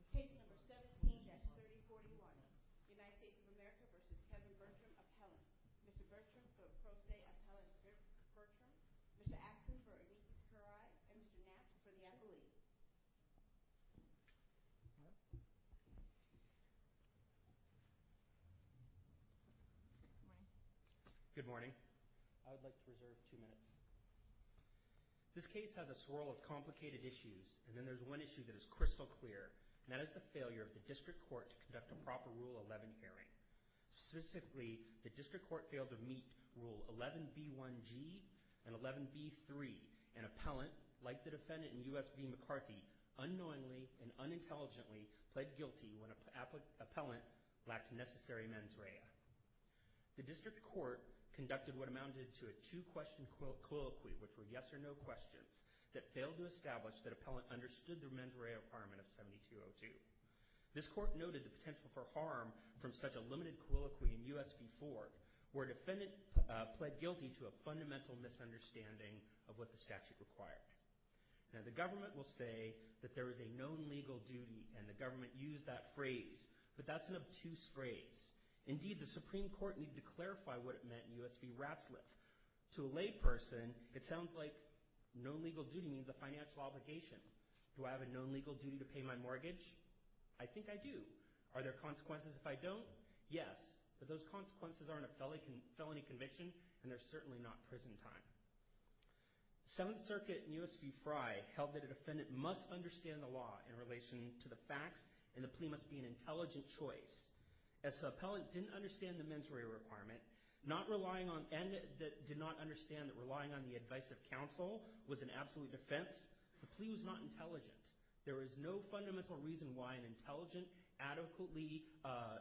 Appellant, Mr. Bertram for Pro Se Appellant Bertram, Mr. Axon for O'Neill Currie, and Mr. Knapp for the Appellee. Good morning. I would like to reserve two minutes. This case has a swirl of complicated issues, and then there's one issue that is crystal clear, and that is the failure of the District Court to conduct a proper Rule 11 hearing. Specifically, the District Court failed to meet Rule 11b1g and 11b3, and Appellant, like the defendant in U.S. v. McCarthy, unknowingly and unintelligently pled guilty when Appellant lacked necessary mens rea. The District Court conducted what amounted to a two-question colloquy, which were yes or no questions, that failed to establish that Appellant understood the mens rea requirement of 7202. This Court noted the potential for harm from such a limited colloquy in U.S. v. Ford, where defendant pled guilty to a fundamental misunderstanding of what the statute required. Now, the government will say that there is a known legal duty, and the government used that phrase, but that's an obtuse phrase. Indeed, the Supreme Court needed to clarify what it meant in U.S. v. Ratzliff. To a layperson, it sounds like known legal duty means a financial obligation. Do I have a known legal duty to pay my mortgage? I think I do. Are there consequences if I don't? Yes, but those consequences aren't a felony conviction, and they're certainly not prison time. Seventh Circuit in U.S. v. Frye held that a defendant must understand the law in relation to the facts, and the plea must be an absolute defense. The Appellant didn't understand the mens rea requirement, and did not understand that relying on the advice of counsel was an absolute defense. The plea was not intelligent. There is no fundamental reason why an intelligent, adequately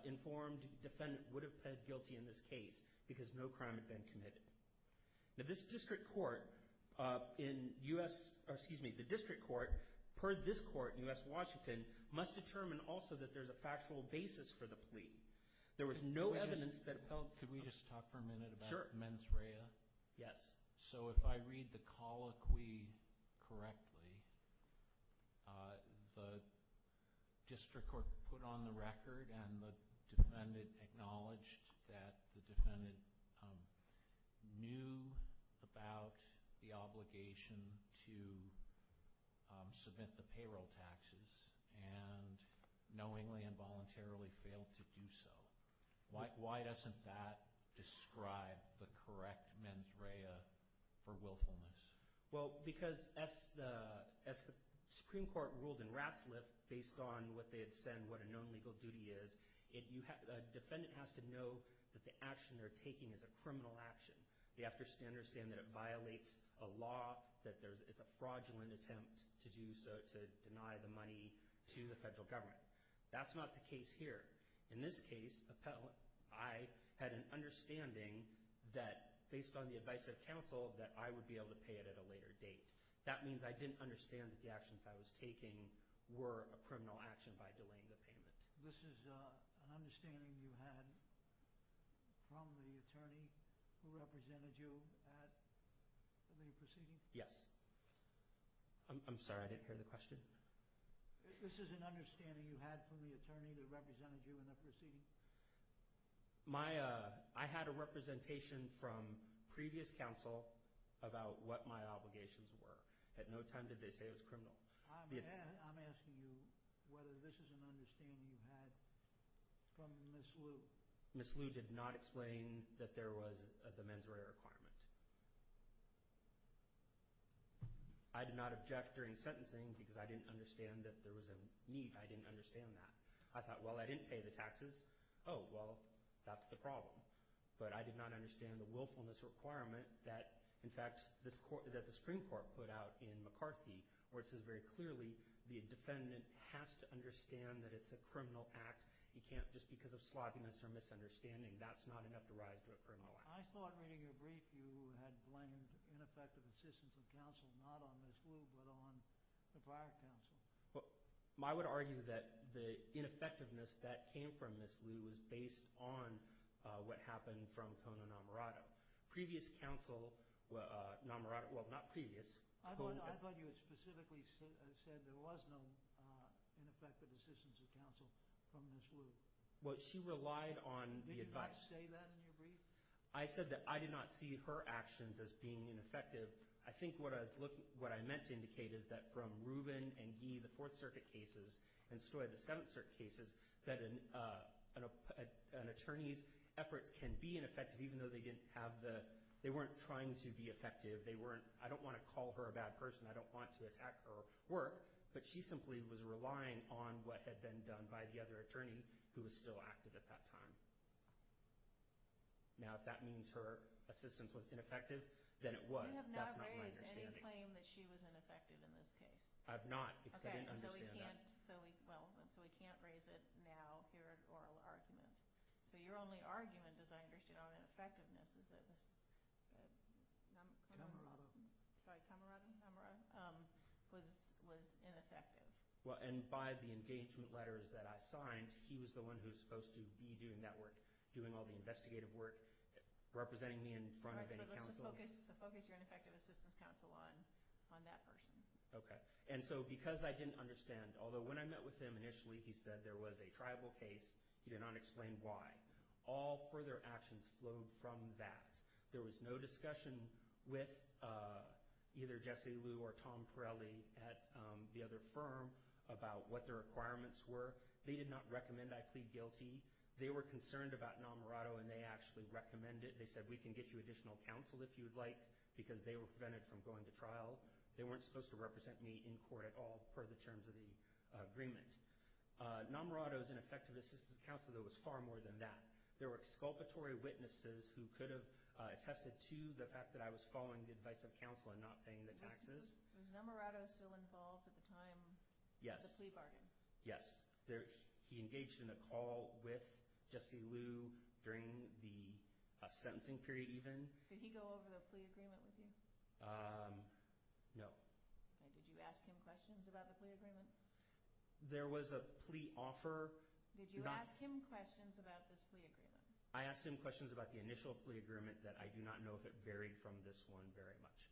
informed defendant would have pled guilty in this case, because no crime had been committed. Now, this District Court in U.S. Washington must determine also that there's a factual basis for the plea. There was no evidence that Appellant— Could we just talk for a minute about mens rea? Yes. So if I read the colloquy correctly, the District Court put on the record and the defendant acknowledged that the defendant knew about the obligation to submit the payroll taxes, and knowingly and voluntarily failed to do so. Why doesn't that describe the correct mens rea for willfulness? Well, because as the Supreme Court ruled in Ratzliff, based on what they had said and what a known legal duty is, a defendant has to know that the action they're taking is a criminal action. They have to understand that it violates a law, that it's a fraudulent attempt to deny the money to the federal government. That's not the case here. In this case, Appellant, I had an understanding that, based on the advice of counsel, that I would be able to pay it at a later date. That means I didn't understand that the actions I was taking were a criminal action by delaying the payment. This is an understanding you had from the attorney who represented you at the proceeding? Yes. I'm sorry, I didn't hear the question. This is an understanding you had from the attorney that represented you in the proceeding? I had a representation from previous counsel about what my obligations were. At no time did they say it was criminal. I'm asking you whether this is an understanding you had from Ms. Liu. Ms. Liu did not explain that there was the mens rea requirement. I did not object during sentencing because I didn't understand that there was a need. I didn't understand that. I thought, well, I didn't pay the taxes. Oh, well, that's the problem. But I did not understand the willfulness requirement that, in fact, that the Supreme Court put out in McCarthy, where it says very clearly the defendant has to understand that it's a criminal act. He can't, just because of sloppiness or misunderstanding, that's not enough to rise to a criminal act. I thought, reading your brief, you had blamed ineffective assistance of counsel not on Ms. Liu but on the prior counsel. I would argue that the ineffectiveness that came from Ms. Liu was based on what happened from Kono-Namurado. Previous counsel, well, not previous. I thought you had specifically said there was no ineffective assistance of counsel from Ms. Liu. Well, she relied on the advice. Did you not say that in your brief? I said that I did not see her actions as being ineffective. I think what I meant to indicate is that from Rubin and Gee, the Fourth Circuit cases, and Stoy, the Seventh Circuit cases, that an attorney's efforts can be ineffective, even though they weren't trying to be effective. I don't want to call her a bad person. I don't want to attack her work. But she simply was relying on what had been done by the other attorney who was still active at that time. Now, if that means her assistance was ineffective, then it was. That's not my understanding. You have not raised any claim that she was ineffective in this case. I've not, because I didn't understand that. Okay, so we can't raise it now here at oral argument. So your only argument, as I understand it, on ineffectiveness is that Kono-Namurado was ineffective. Well, and by the engagement letters that I signed, he was the one who was supposed to be doing that work, doing all the investigative work, representing me in front of any counsel. Right, but let's just focus your ineffective assistance counsel on that person. Okay. And so because I didn't understand, although when I met with him initially, he said there was a tribal case. He did not explain why. All further actions flowed from that. There was no discussion with either Jesse Liu or Tom Pirelli at the other firm about what their requirements were. They did not recommend I plead guilty. They were concerned about Namurado, and they actually recommended it. They said, we can get you additional counsel if you would like, because they were prevented from going to trial. They weren't supposed to represent me in court at all per the terms of the agreement. Namurado's ineffective assistance counsel, though, was far more than that. There were exculpatory witnesses who could have attested to the fact that I was following the advice of counsel and not paying the taxes. Was Namurado still involved at the time of the plea bargain? Yes. He engaged in a call with Jesse Liu during the sentencing period even. Did he go over the plea agreement with you? No. Did you ask him questions about the plea agreement? There was a plea offer. Did you ask him questions about this plea agreement? I asked him questions about the initial plea agreement that I do not know if it varied from this one very much.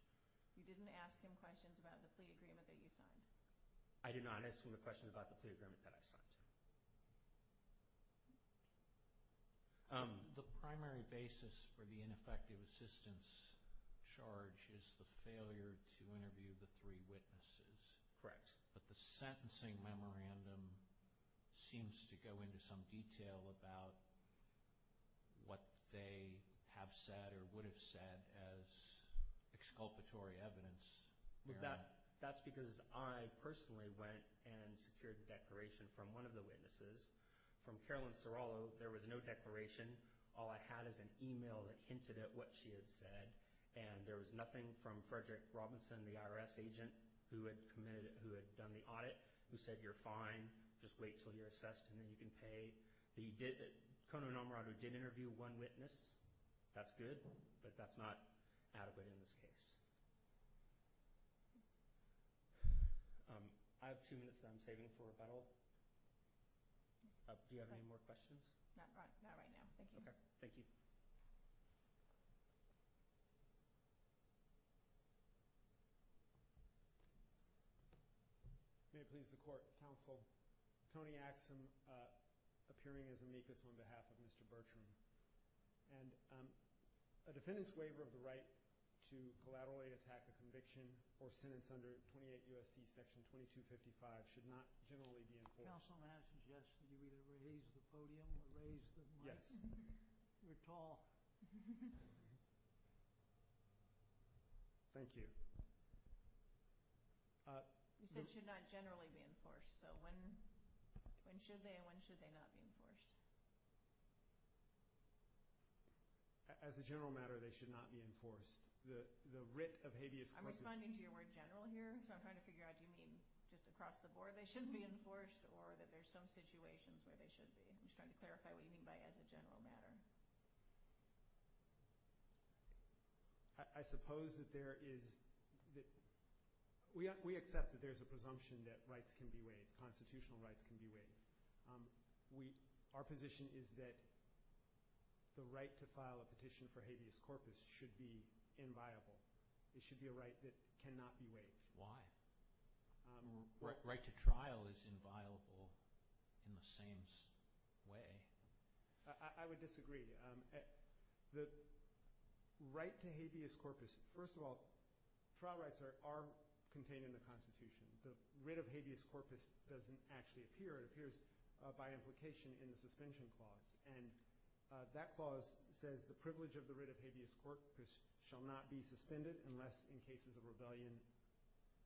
You didn't ask him questions about the plea agreement that you signed? I did not ask him questions about the plea agreement that I signed. The primary basis for the ineffective assistance charge is the failure to interview the three witnesses. Correct. But the sentencing memorandum seems to go into some detail about what they have said or would have said as exculpatory evidence. That's because I personally went and secured the declaration from one of the witnesses. From Carolyn Serrallo, there was no declaration. All I had was an e-mail that hinted at what she had said. And there was nothing from Frederick Robinson, the IRS agent who had done the audit, who said, you're fine, just wait until you're assessed and then you can pay. The Conan O'Mara who did interview one witness, that's good, but that's not adequate in this case. I have two minutes that I'm saving for rebuttal. Do you have any more questions? Not right now. Thank you. Okay. Thank you. May it please the Court. Counsel, Tony Axsom, appearing as amicus on behalf of Mr. Bertram. And a defendant's waiver of the right to collaterally attack a conviction or sentence under 28 U.S.C. section 2255 should not generally be enforced. Counsel, may I suggest that you either raise the podium or raise the mic? Yes. We're tall. Thank you. You said should not generally be enforced. So when should they and when should they not be enforced? As a general matter, they should not be enforced. The writ of habeas corpus – I'm responding to your word general here, so I'm trying to figure out, do you mean just across the board they should be enforced or that there's some situations where they should be? I'm just trying to clarify what you mean by as a general matter. I suppose that there is – we accept that there's a presumption that rights can be waived, constitutional rights can be waived. Our position is that the right to file a petition for habeas corpus should be inviolable. It should be a right that cannot be waived. Why? Right to trial is inviolable in the same way. I would disagree. The right to habeas corpus – first of all, trial rights are contained in the Constitution. The writ of habeas corpus doesn't actually appear. It appears by implication in the suspension clause. And that clause says the privilege of the writ of habeas corpus shall not be suspended unless in cases of rebellion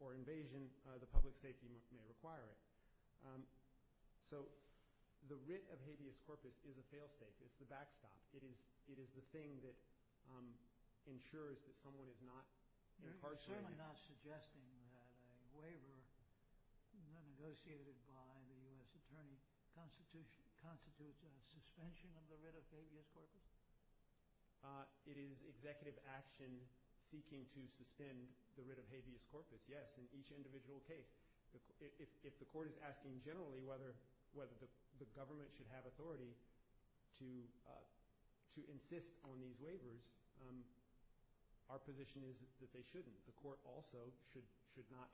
or invasion the public safety may require it. So the writ of habeas corpus is a fail state. It's the backstop. It is the thing that ensures that someone is not incarcerated. Are you not suggesting that a waiver negotiated by the U.S. Attorney constitutes a suspension of the writ of habeas corpus? It is executive action seeking to suspend the writ of habeas corpus, yes, in each individual case. If the court is asking generally whether the government should have authority to insist on these waivers, our position is that they shouldn't. The court also should not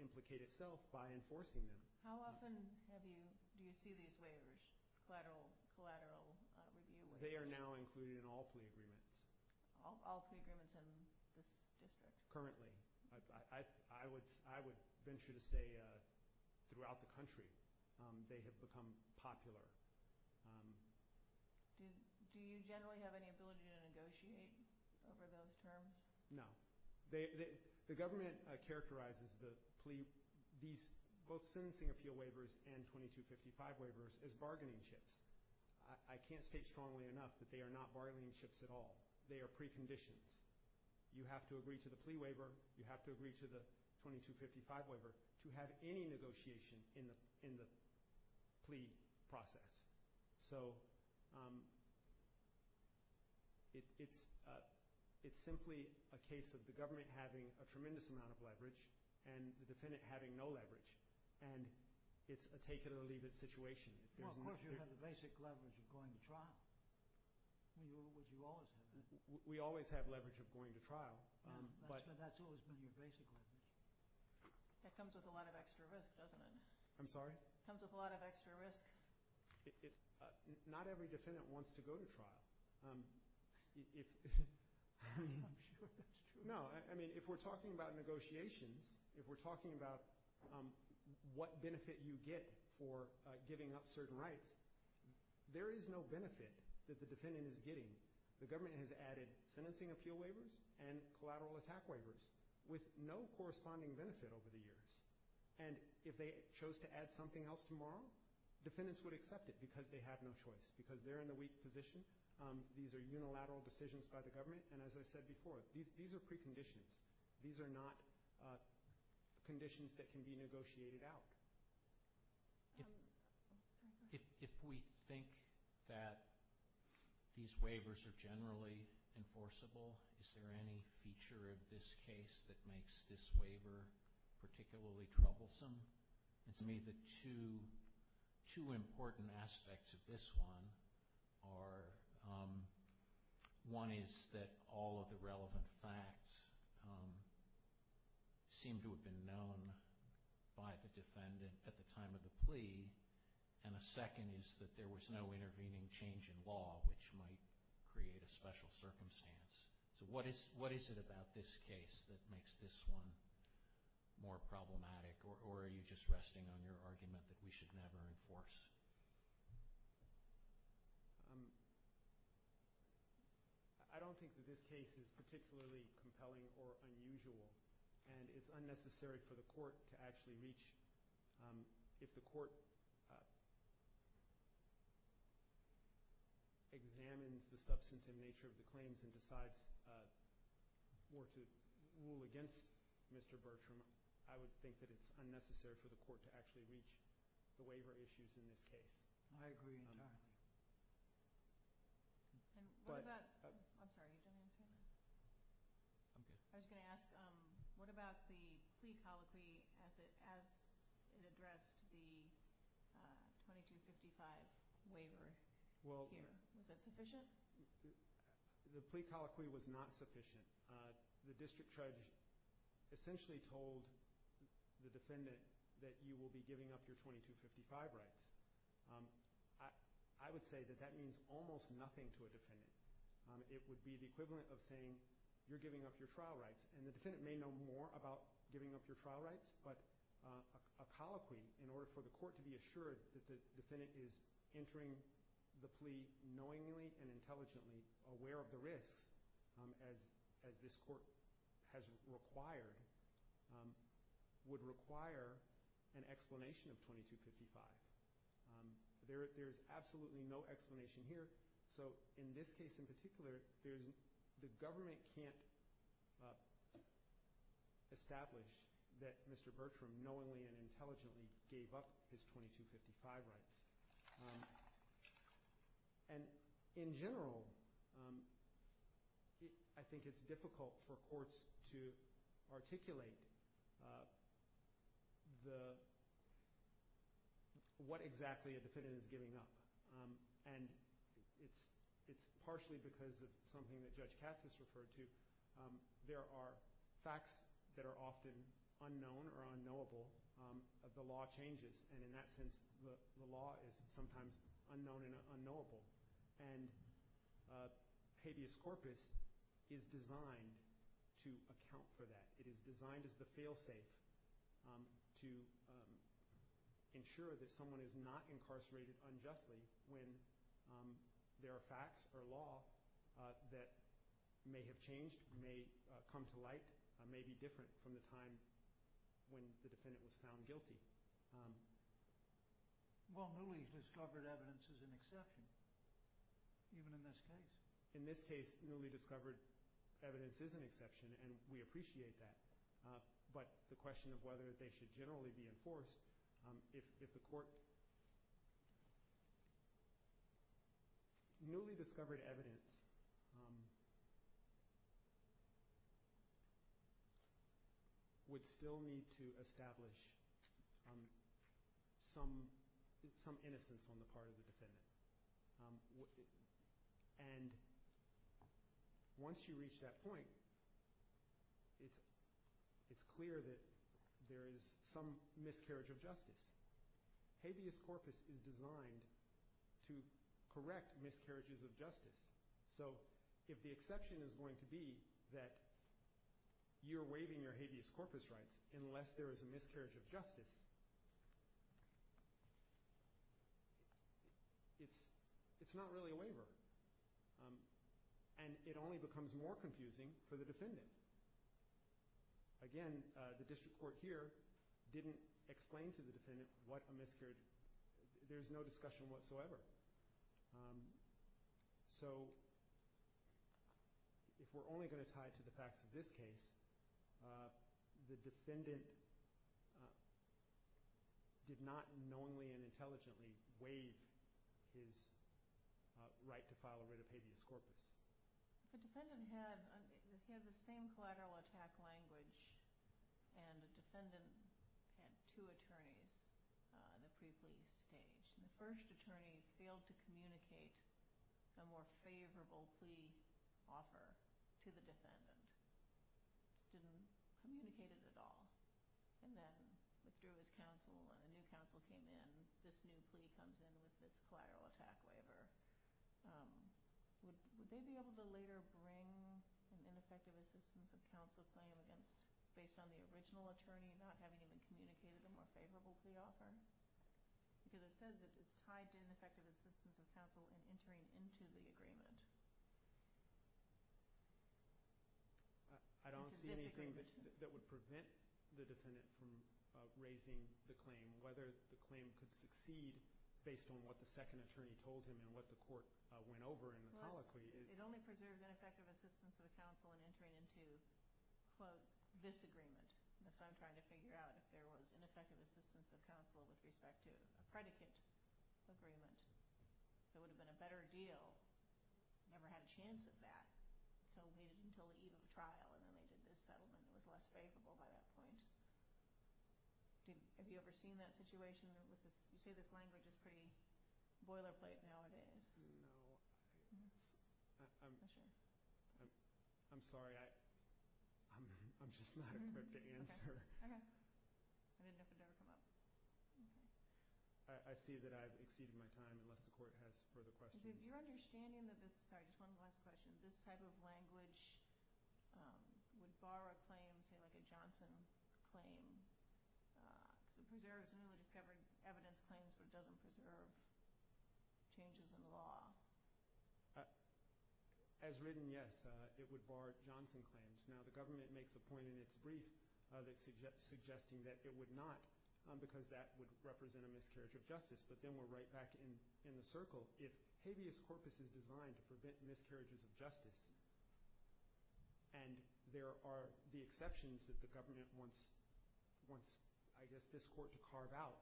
implicate itself by enforcing them. How often have you – do you see these waivers, collateral review waivers? They are now included in all plea agreements. All plea agreements in this district? Currently. I would venture to say throughout the country they have become popular. Do you generally have any ability to negotiate over those terms? No. The government characterizes these both sentencing appeal waivers and 2255 waivers as bargaining chips. I can't state strongly enough that they are not bargaining chips at all. They are preconditions. You have to agree to the plea waiver. You have to agree to the 2255 waiver to have any negotiation in the plea process. It is simply a case of the government having a tremendous amount of leverage and the defendant having no leverage. It is a take it or leave it situation. Of course, you have the basic leverage of going to trial. You always have that. We always have leverage of going to trial. That has always been your basic leverage. That comes with a lot of extra risk, doesn't it? I'm sorry? It comes with a lot of extra risk. Not every defendant wants to go to trial. I'm sure that's true. No. If we're talking about negotiations, if we're talking about what benefit you get for giving up certain rights, there is no benefit that the defendant is getting. The government has added sentencing appeal waivers and collateral attack waivers with no corresponding benefit over the years. And if they chose to add something else tomorrow, defendants would accept it because they have no choice, because they're in the weak position. These are unilateral decisions by the government. And as I said before, these are preconditions. These are not conditions that can be negotiated out. If we think that these waivers are generally enforceable, is there any feature of this case that makes this waiver particularly troublesome? To me, the two important aspects of this one are, one is that all of the relevant facts seem to have been known by the defendant at the time of the plea, and a second is that there was no intervening change in law, which might create a special circumstance. So what is it about this case that makes this one more problematic, or are you just resting on your argument that we should never enforce? I don't think that this case is particularly compelling or unusual, and it's unnecessary for the court to actually reach. If the court examines the substance and nature of the claims and decides more to rule against Mr. Bertram, I would think that it's unnecessary for the court to actually reach the waiver issues in this case. I agree entirely. I'm sorry, you didn't answer that. I'm good. I was going to ask, what about the plea colloquy as it addressed the 2255 waiver here? Was that sufficient? The plea colloquy was not sufficient. The district judge essentially told the defendant that you will be giving up your 2255 rights. I would say that that means almost nothing to a defendant. It would be the equivalent of saying you're giving up your trial rights, and the defendant may know more about giving up your trial rights, but a colloquy in order for the court to be assured that the defendant is entering the plea knowingly and intelligently aware of the risks as this court has required would require an explanation of 2255. There is absolutely no explanation here. So in this case in particular, the government can't establish that Mr. Bertram knowingly and intelligently gave up his 2255 rights. And in general, I think it's difficult for courts to articulate what exactly a defendant is giving up. And it's partially because of something that Judge Katz has referred to. There are facts that are often unknown or unknowable. The law changes, and in that sense, the law is sometimes unknown and unknowable. And habeas corpus is designed to account for that. It is designed as the fail-safe to ensure that someone is not incarcerated unjustly when there are facts or law that may have changed, may come to light, may be different from the time when the defendant was found guilty. Well, newly discovered evidence is an exception, even in this case. In this case, newly discovered evidence is an exception, and we appreciate that. But the question of whether they should generally be enforced, if the court – newly discovered evidence would still need to establish some innocence on the part of the defendant. And once you reach that point, it's clear that there is some miscarriage of justice. Habeas corpus is designed to correct miscarriages of justice. So if the exception is going to be that you're waiving your habeas corpus rights unless there is a miscarriage of justice, it's not really a waiver. And it only becomes more confusing for the defendant. Again, the district court here didn't explain to the defendant what a miscarriage – there's no discussion whatsoever. So if we're only going to tie it to the facts of this case, the defendant did not knowingly and intelligently waive his right to file a writ of habeas corpus. The defendant had the same collateral attack language, and the defendant had two attorneys in the pre-plea stage. The first attorney failed to communicate a more favorable plea offer to the defendant. Didn't communicate it at all. And then withdrew his counsel, and a new counsel came in. This new plea comes in with this collateral attack waiver. Would they be able to later bring an ineffective assistance of counsel claim based on the original attorney not having even communicated a more favorable plea offer? Because it says that it's tied to ineffective assistance of counsel in entering into the agreement. It's a disagreement. I don't see anything that would prevent the defendant from raising the claim, whether the claim could succeed based on what the second attorney told him and what the court went over in the colloquy. It only preserves ineffective assistance of counsel in entering into, quote, this agreement. That's what I'm trying to figure out, if there was ineffective assistance of counsel with respect to a predicate agreement. If it would have been a better deal, never had a chance of that. So waited until the eve of the trial, and then they did this settlement. It was less favorable by that point. Have you ever seen that situation? You say this language is pretty boilerplate nowadays. No. I'm sorry. I'm just not equipped to answer. Okay. I didn't know if it would ever come up. I see that I've exceeded my time unless the court has further questions. You're understanding that this – sorry, just one last question. This type of language would bar a claim, say like a Johnson claim, because it preserves newly discovered evidence claims, but it doesn't preserve changes in the law. As written, yes, it would bar Johnson claims. Now, the government makes a point in its brief suggesting that it would not because that would represent a miscarriage of justice. But then we're right back in the circle. If habeas corpus is designed to prevent miscarriages of justice and there are the exceptions that the government wants, I guess, this court to carve out,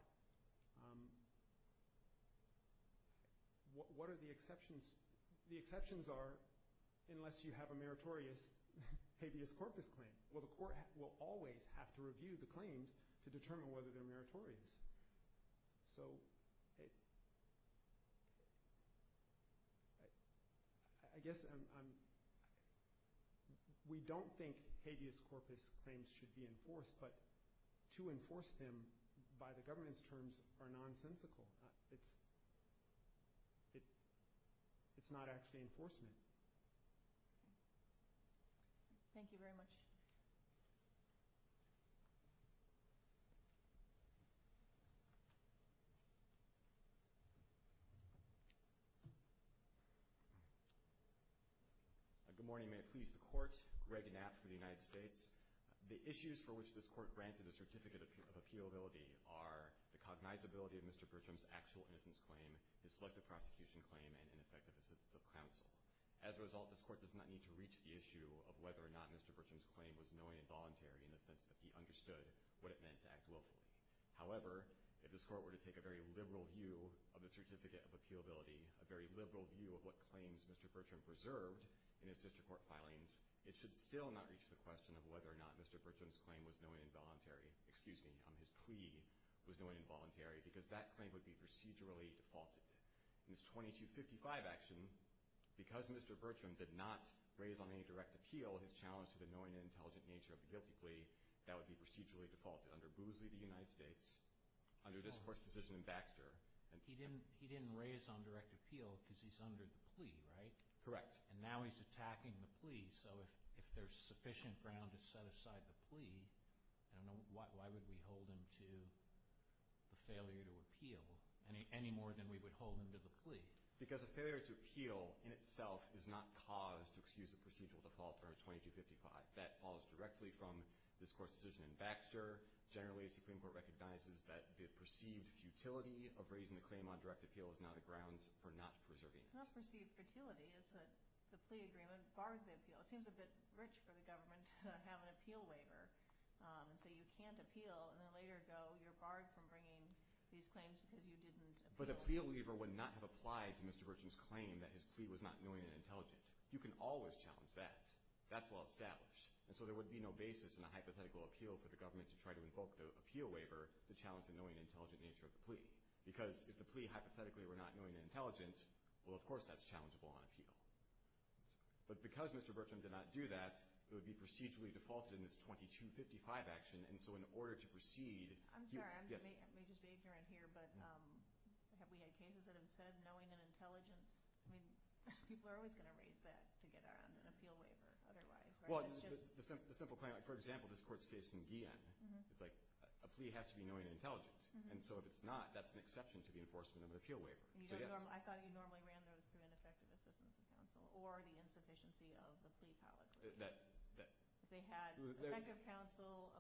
what are the exceptions? The exceptions are unless you have a meritorious habeas corpus claim. Well, the court will always have to review the claims to determine whether they're meritorious. So I guess I'm – we don't think habeas corpus claims should be enforced, but to enforce them by the government's terms are nonsensical. It's not actually enforcement. Thank you. Thank you very much. Good morning. May it please the Court. Greg Knapp for the United States. The issues for which this court granted a certificate of appealability are the cognizability of Mr. Bertram's actual innocence claim, his selective prosecution claim, and ineffective assistance of counsel. As a result, this court does not need to reach the issue of whether or not Mr. Bertram's claim was knowing and voluntary in the sense that he understood what it meant to act willfully. However, if this court were to take a very liberal view of the certificate of appealability, a very liberal view of what claims Mr. Bertram preserved in his district court filings, it should still not reach the question of whether or not Mr. Bertram's claim was knowing and voluntary – procedurally defaulted. In this 2255 action, because Mr. Bertram did not raise on any direct appeal his challenge to the knowing and intelligent nature of the guilty plea, that would be procedurally defaulted under Boozley v. United States, under this court's decision in Baxter. He didn't raise on direct appeal because he's under the plea, right? Correct. And now he's attacking the plea, so if there's sufficient ground to set aside the plea, why would we hold him to the failure to appeal any more than we would hold him to the plea? Because a failure to appeal in itself is not cause to excuse a procedural default under 2255. That falls directly from this court's decision in Baxter. Generally, the Supreme Court recognizes that the perceived futility of raising the claim on direct appeal is now the grounds for not preserving it. It's not perceived futility. It's that the plea agreement barred the appeal. Well, it seems a bit rich for the government to have an appeal waiver and say you can't appeal, and then later go you're barred from bringing these claims because you didn't appeal. But a plea waiver would not have applied to Mr. Bertram's claim that his plea was not knowing and intelligent. You can always challenge that. That's well established. And so there would be no basis in a hypothetical appeal for the government to try to invoke the appeal waiver that challenged the knowing and intelligent nature of the plea. Because if the plea hypothetically were not knowing and intelligent, well, of course that's challengeable on appeal. But because Mr. Bertram did not do that, it would be procedurally defaulted in this 2255 action, and so in order to proceed. I'm sorry. I may just be ignorant here, but have we had cases that have said knowing and intelligence? I mean, people are always going to raise that to get around an appeal waiver otherwise. Well, the simple claim, for example, this court's case in Guillen. It's like a plea has to be knowing and intelligent. And so if it's not, that's an exception to the enforcement of an appeal waiver. I thought you normally ran those through ineffective assistance of counsel or the insufficiency of the plea colloquy. They had effective counsel,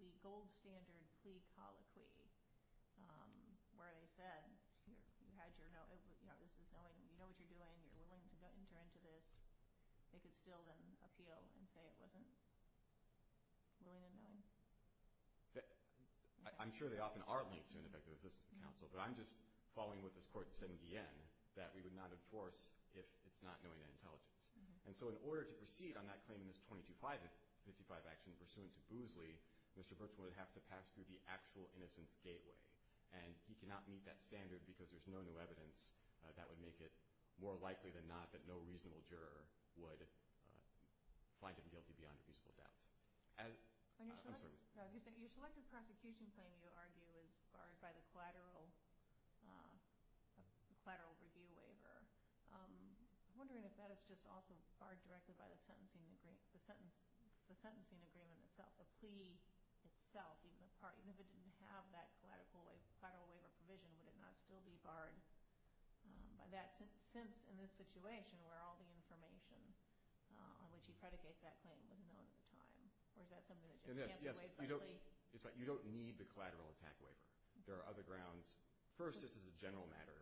the gold standard plea colloquy, where they said you had your knowledge. This is knowing. You know what you're doing. You're willing to enter into this. They could still then appeal and say it wasn't willing and knowing. I'm sure they often are linked to ineffective assistance of counsel, but I'm just following what this court said in Guillen, that we would not enforce if it's not knowing and intelligence. And so in order to proceed on that claim in this 2255 action pursuant to Boozley, Mr. Brooks would have to pass through the actual innocence gateway, and he cannot meet that standard because there's no new evidence that would make it more likely than not that no reasonable juror would find him guilty beyond a reasonable doubt. I'm sorry. Your selected prosecution claim, you argue, is barred by the collateral review waiver. I'm wondering if that is just also barred directly by the sentencing agreement itself, the plea itself, even if it didn't have that collateral waiver provision, would it not still be barred by that, since in this situation where all the information on which he predicates that claim was known at the time? Or is that something that just can't be waived by plea? You don't need the collateral attack waiver. There are other grounds. First, just as a general matter,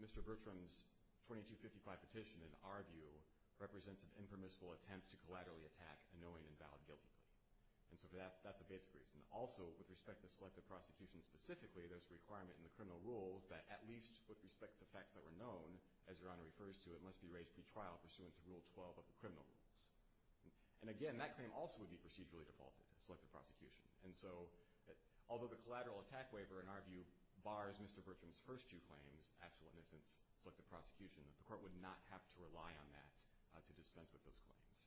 Mr. Bertram's 2255 petition, in our view, represents an impermissible attempt to collaterally attack a knowing and valid guilty plea. And so that's a basic reason. Also, with respect to the selected prosecution specifically, there's a requirement in the criminal rules that at least with respect to facts that were known, as Your Honor refers to it, must be raised pre-trial pursuant to Rule 12 of the criminal rules. And again, that claim also would be procedurally defaulted to selected prosecution. And so although the collateral attack waiver, in our view, bars Mr. Bertram's first two claims, actual innocence, selected prosecution, the court would not have to rely on that to dispense with those claims.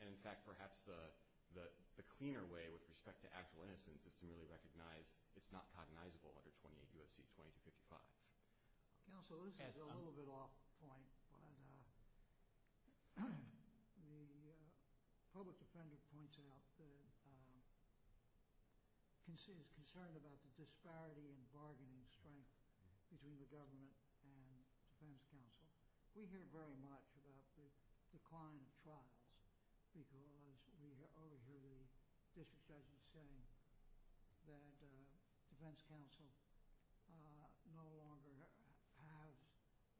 And, in fact, perhaps the cleaner way with respect to actual innocence is to merely recognize it's not cognizable under 28 U.S.C. 2255. Counsel, this is a little bit off the point, but the public defender points out that he's concerned about the disparity in bargaining strength between the government and defense counsel. We hear very much about the decline of trials because over here the district judge is saying that defense counsel no longer has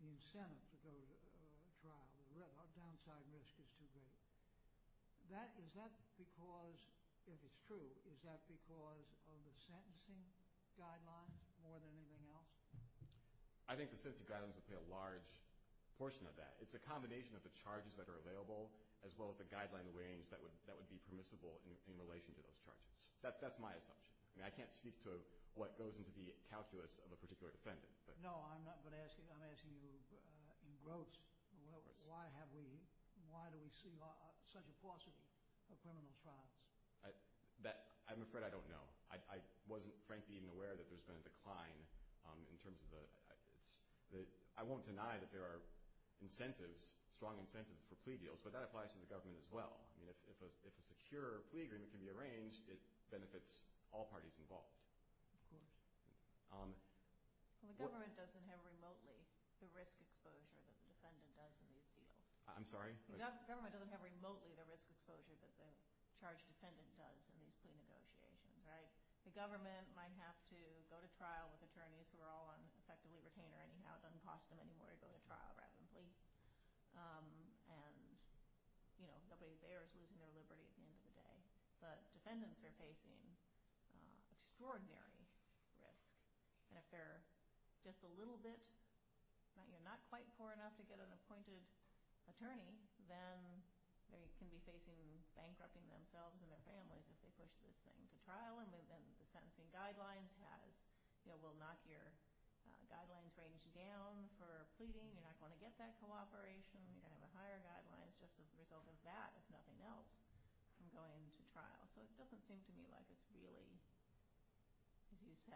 the incentive to go to trial. The downside risk is too great. Is that because, if it's true, is that because of the sentencing guidelines more than anything else? I think the sentencing guidelines would play a large portion of that. It's a combination of the charges that are available as well as the guideline range that would be permissible in relation to those charges. That's my assumption. I mean, I can't speak to what goes into the calculus of a particular defendant. No, I'm asking you in gross, why do we see such a paucity of criminal trials? I'm afraid I don't know. I wasn't, frankly, even aware that there's been a decline in terms of the – I won't deny that there are incentives, strong incentives for plea deals, but that applies to the government as well. I mean, if a secure plea agreement can be arranged, it benefits all parties involved. Of course. The government doesn't have remotely the risk exposure that the defendant does in these deals. I'm sorry? The government doesn't have remotely the risk exposure that the charged defendant does in these plea negotiations, right? The government might have to go to trial with attorneys who are all on effectively retainer anyhow. It doesn't cost them anymore to go to trial rather than plea. And, you know, nobody bears losing their liberty at the end of the day. But defendants are facing extraordinary risk. And if they're just a little bit – you're not quite poor enough to get an appointed attorney, then they can be facing bankrupting themselves and their families if they push this thing to trial. And the sentencing guidelines has – will knock your guidelines range down for pleading. You're not going to get that cooperation. You're going to have a higher guideline just as a result of that, if nothing else, from going to trial. So it doesn't seem to me like it's really, as you said,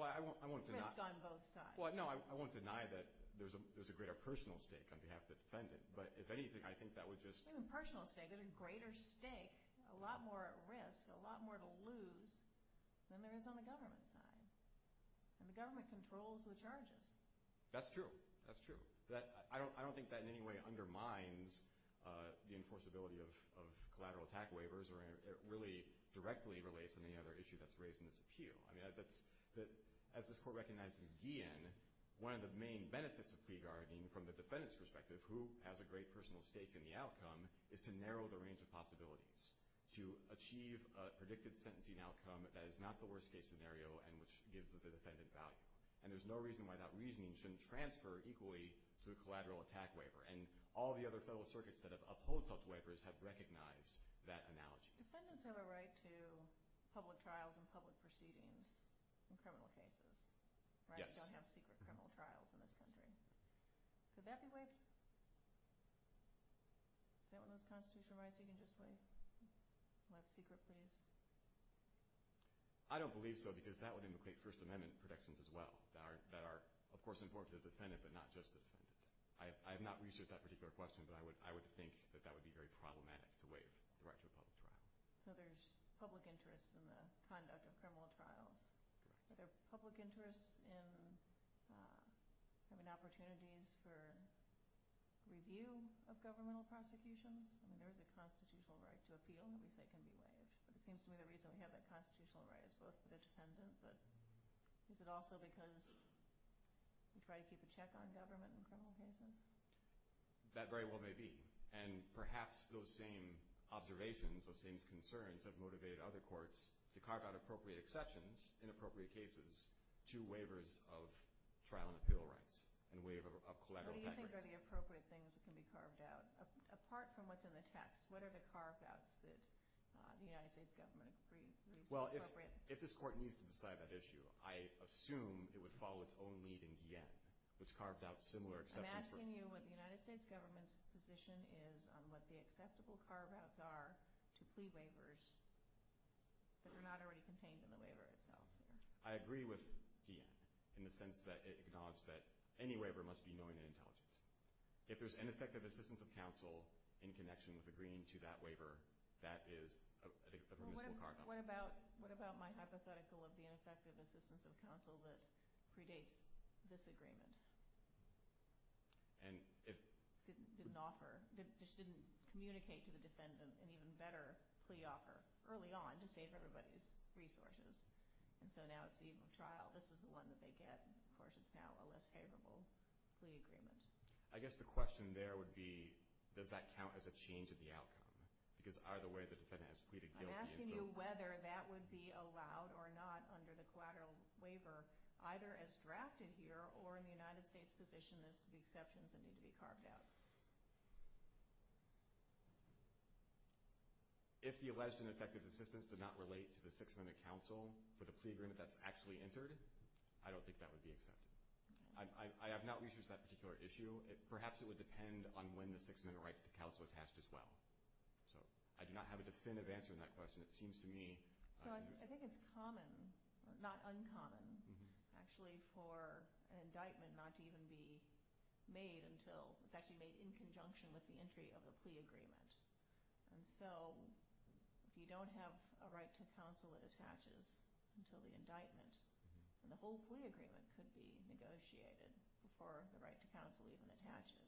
risk on both sides. Well, no, I won't deny that there's a greater personal stake on behalf of the defendant. But if anything, I think that would just – There's a personal stake. There's a greater stake, a lot more at risk, a lot more to lose than there is on the government side. And the government controls the charges. That's true. That's true. I don't think that in any way undermines the enforceability of collateral attack waivers or really directly relates to any other issue that's raised in this appeal. I mean, that's – as this Court recognized again, one of the main benefits of plea guarding from the defendant's perspective, who has a great personal stake in the outcome, is to narrow the range of possibilities, to achieve a predicted sentencing outcome that is not the worst-case scenario and which gives the defendant value. And there's no reason why that reasoning shouldn't transfer equally to a collateral attack waiver. And all the other federal circuits that have upheld such waivers have recognized that analogy. Defendants have a right to public trials and public proceedings in criminal cases, right? There are no secret criminal trials in this country. Could that be waived? Is that one of those constitutional rights you can just waive? Left secret, please. I don't believe so because that would implicate First Amendment protections as well that are, of course, important to the defendant but not just the defendant. I have not researched that particular question, but I would think that that would be very problematic to waive the right to a public trial. So there's public interest in the conduct of criminal trials. Are there public interests in having opportunities for review of governmental prosecutions? I mean, there is a constitutional right to appeal that we say can be waived. But it seems to me the reason we have that constitutional right is both for the defendant but is it also because we try to keep a check on government in criminal cases? That very well may be. And perhaps those same observations, those same concerns, have motivated other courts to carve out appropriate exceptions in appropriate cases to waivers of trial and appeal rights and waiver of collateral deference. What do you think are the appropriate things that can be carved out? Apart from what's in the text, what are the carve-outs that the United States government agrees are appropriate? Well, if this court needs to decide that issue, I assume it would follow its own lead in Guyenne, which carved out similar exceptions. I'm asking you what the United States government's position is on what the acceptable carve-outs are to plea waivers that are not already contained in the waiver itself. I agree with Guyenne in the sense that it acknowledges that any waiver must be knowing and intelligent. If there's ineffective assistance of counsel in connection with agreeing to that waiver, that is a permissible carve-out. What about my hypothetical of the ineffective assistance of counsel that predates this agreement? It didn't communicate to the defendant an even better plea offer early on to save everybody's resources. And so now it's the eve of trial. This is the one that they get. Of course, it's now a less favorable plea agreement. I guess the question there would be, does that count as a change of the outcome? Because either way, the defendant has pleaded guilty. I'm asking you whether that would be allowed or not under the collateral waiver, either as drafted here or in the United States position as to the exceptions that need to be carved out. If the alleged ineffective assistance did not relate to the six-minute counsel for the plea agreement that's actually entered, I don't think that would be accepted. I have not researched that particular issue. Perhaps it would depend on when the six-minute right to counsel attached as well. So I do not have a definitive answer to that question. So I think it's common, not uncommon, actually, for an indictment not to even be made until it's actually made in conjunction with the entry of the plea agreement. And so if you don't have a right to counsel it attaches until the indictment, then the whole plea agreement could be negotiated before the right to counsel even attaches.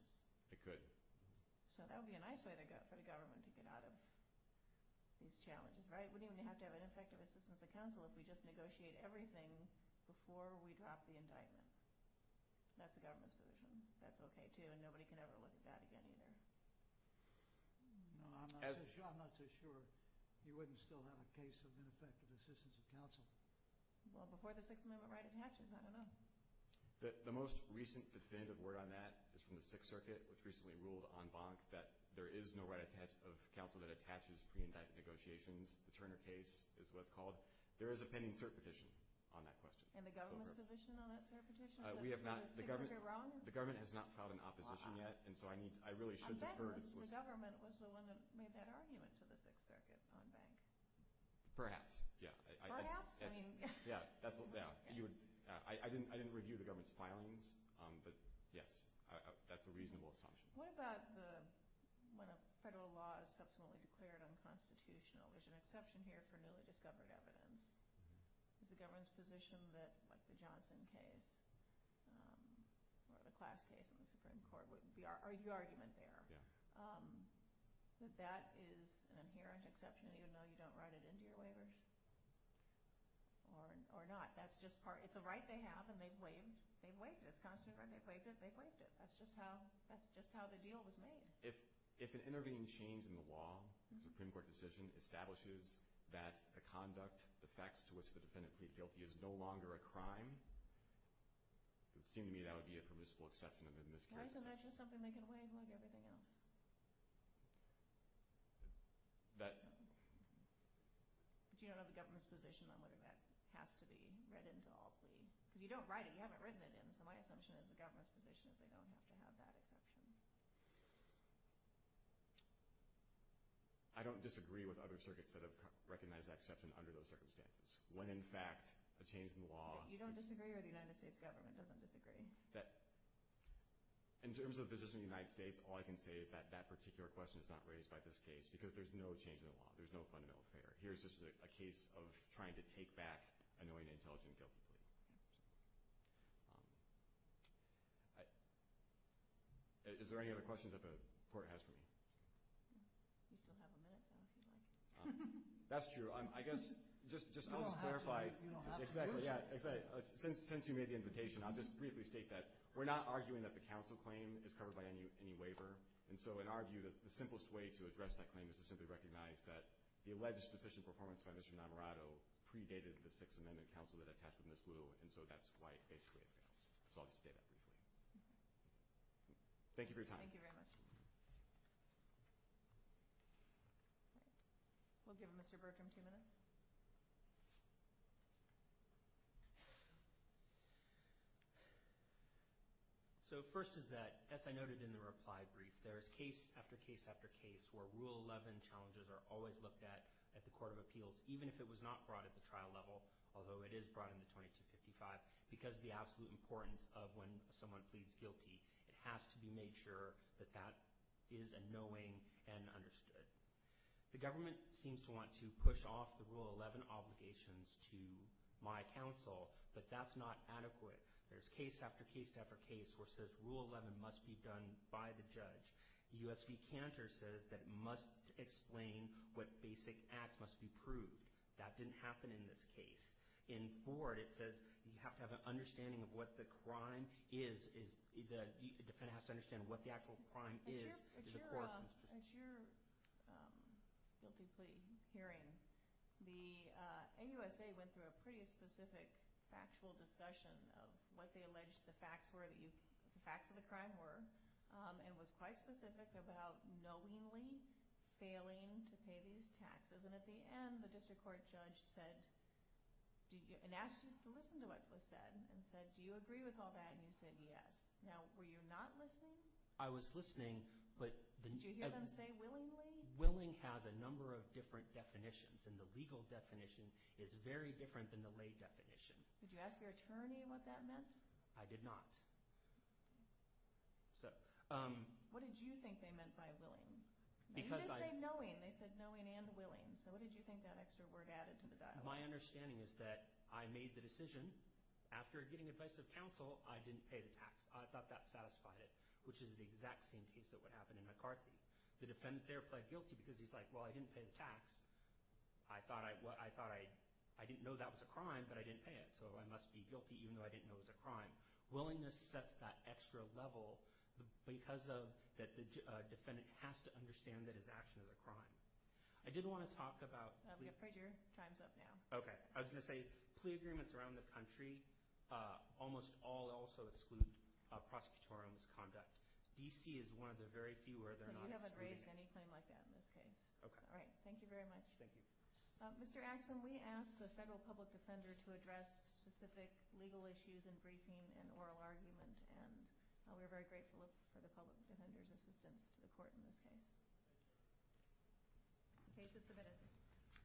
It could. So that would be a nice way for the government to get out of these challenges, right? We wouldn't even have to have ineffective assistance of counsel if we just negotiate everything before we drop the indictment. That's the government's position. That's okay, too, and nobody can ever look at that again either. No, I'm not so sure. You wouldn't still have a case of ineffective assistance of counsel. Well, before the six-minute right attaches, I don't know. The most recent definitive word on that is from the Sixth Circuit, which recently ruled en banc that there is no right of counsel that attaches pre-indicted negotiations. The Turner case is what it's called. There is a pending cert petition on that question. And the government's position on that cert petition? We have not. Is the Sixth Circuit wrong? The government has not filed an opposition yet, and so I really should defer. I bet the government was the one that made that argument to the Sixth Circuit en banc. Perhaps, yeah. Perhaps? Yeah, I didn't review the government's filings, but, yes, that's a reasonable assumption. What about when a federal law is subsequently declared unconstitutional? There's an exception here for newly discovered evidence. Is the government's position that, like the Johnson case or the Class case in the Supreme Court, would be the argument there? Yeah. That that is an inherent exception even though you don't write it into your waivers? Or not. That's just part. It's a right they have, and they've waived it. It's a constitutional right. They've waived it. They've waived it. That's just how the deal was made. If an intervening change in the law, a Supreme Court decision, establishes that the conduct, the facts to which the defendant pleaded guilty, is no longer a crime, it would seem to me that would be a permissible exception in this case. Why is it not just something they can waive like everything else? That. But you don't know the government's position on whether that has to be read into all plea. Because you don't write it. You haven't written it in. So my assumption is the government's position is they don't have to have that exception. I don't disagree with other circuits that have recognized that exception under those circumstances. When, in fact, a change in the law. You don't disagree or the United States government doesn't disagree? In terms of the position of the United States, all I can say is that that particular question is not raised by this case because there's no change in the law. There's no fundamental affair. Here's just a case of trying to take back a knowing, intelligent, guilty plea. Is there any other questions that the Court has for me? That's true. I guess just to clarify. You don't have to. You don't have to. I just want to state that we're not arguing that the counsel claim is covered by any waiver. And so in our view, the simplest way to address that claim is to simply recognize that the alleged deficient performance by Mr. Navarro predated the Sixth Amendment counsel that attached with Ms. Liu. And so that's why it basically fails. So I'll just state that briefly. Thank you for your time. Thank you very much. We'll give Mr. Bertram two minutes. So first is that, as I noted in the reply brief, there is case after case after case where Rule 11 challenges are always looked at at the Court of Appeals, even if it was not brought at the trial level, although it is brought in the 2255, because the absolute importance of when someone pleads guilty, it has to be made sure that that is a knowing and understood. The government seems to want to push off the Rule 11 obligations to my counsel, but that's not adequate. There's case after case after case where it says Rule 11 must be done by the judge. The U.S. v. Cantor says that it must explain what basic acts must be proved. That didn't happen in this case. In Ford, it says you have to have an understanding of what the crime is. The defendant has to understand what the actual crime is. At your guilty plea hearing, the AUSA went through a pretty specific factual discussion of what they alleged the facts of the crime were and was quite specific about knowingly failing to pay these taxes. And at the end, the district court judge asked you to listen to what was said and said, do you agree with all that? And you said yes. Now, were you not listening? I was listening, but— Did you hear them say willingly? Willing has a number of different definitions, and the legal definition is very different than the lay definition. Did you ask your attorney what that meant? I did not. What did you think they meant by willing? You did say knowing. They said knowing and willing. So what did you think that extra word added to the dialogue? My understanding is that I made the decision. After getting advice of counsel, I didn't pay the tax. I thought that satisfied it, which is the exact same case that would happen in McCarthy. The defendant there pled guilty because he's like, well, I didn't pay the tax. I thought I didn't know that was a crime, but I didn't pay it, so I must be guilty even though I didn't know it was a crime. Willingness sets that extra level because the defendant has to understand that his action is a crime. I did want to talk about— Your time's up now. Okay. I was going to say plea agreements around the country almost all also exclude prosecutorial misconduct. D.C. is one of the very few where they're not excluding— You haven't raised any claim like that in this case. Okay. All right. Thank you very much. Thank you. Mr. Axsom, we asked the federal public defender to address specific legal issues in briefing and oral argument, and we're very grateful for the public defender's assistance to the court in this case. The case is submitted.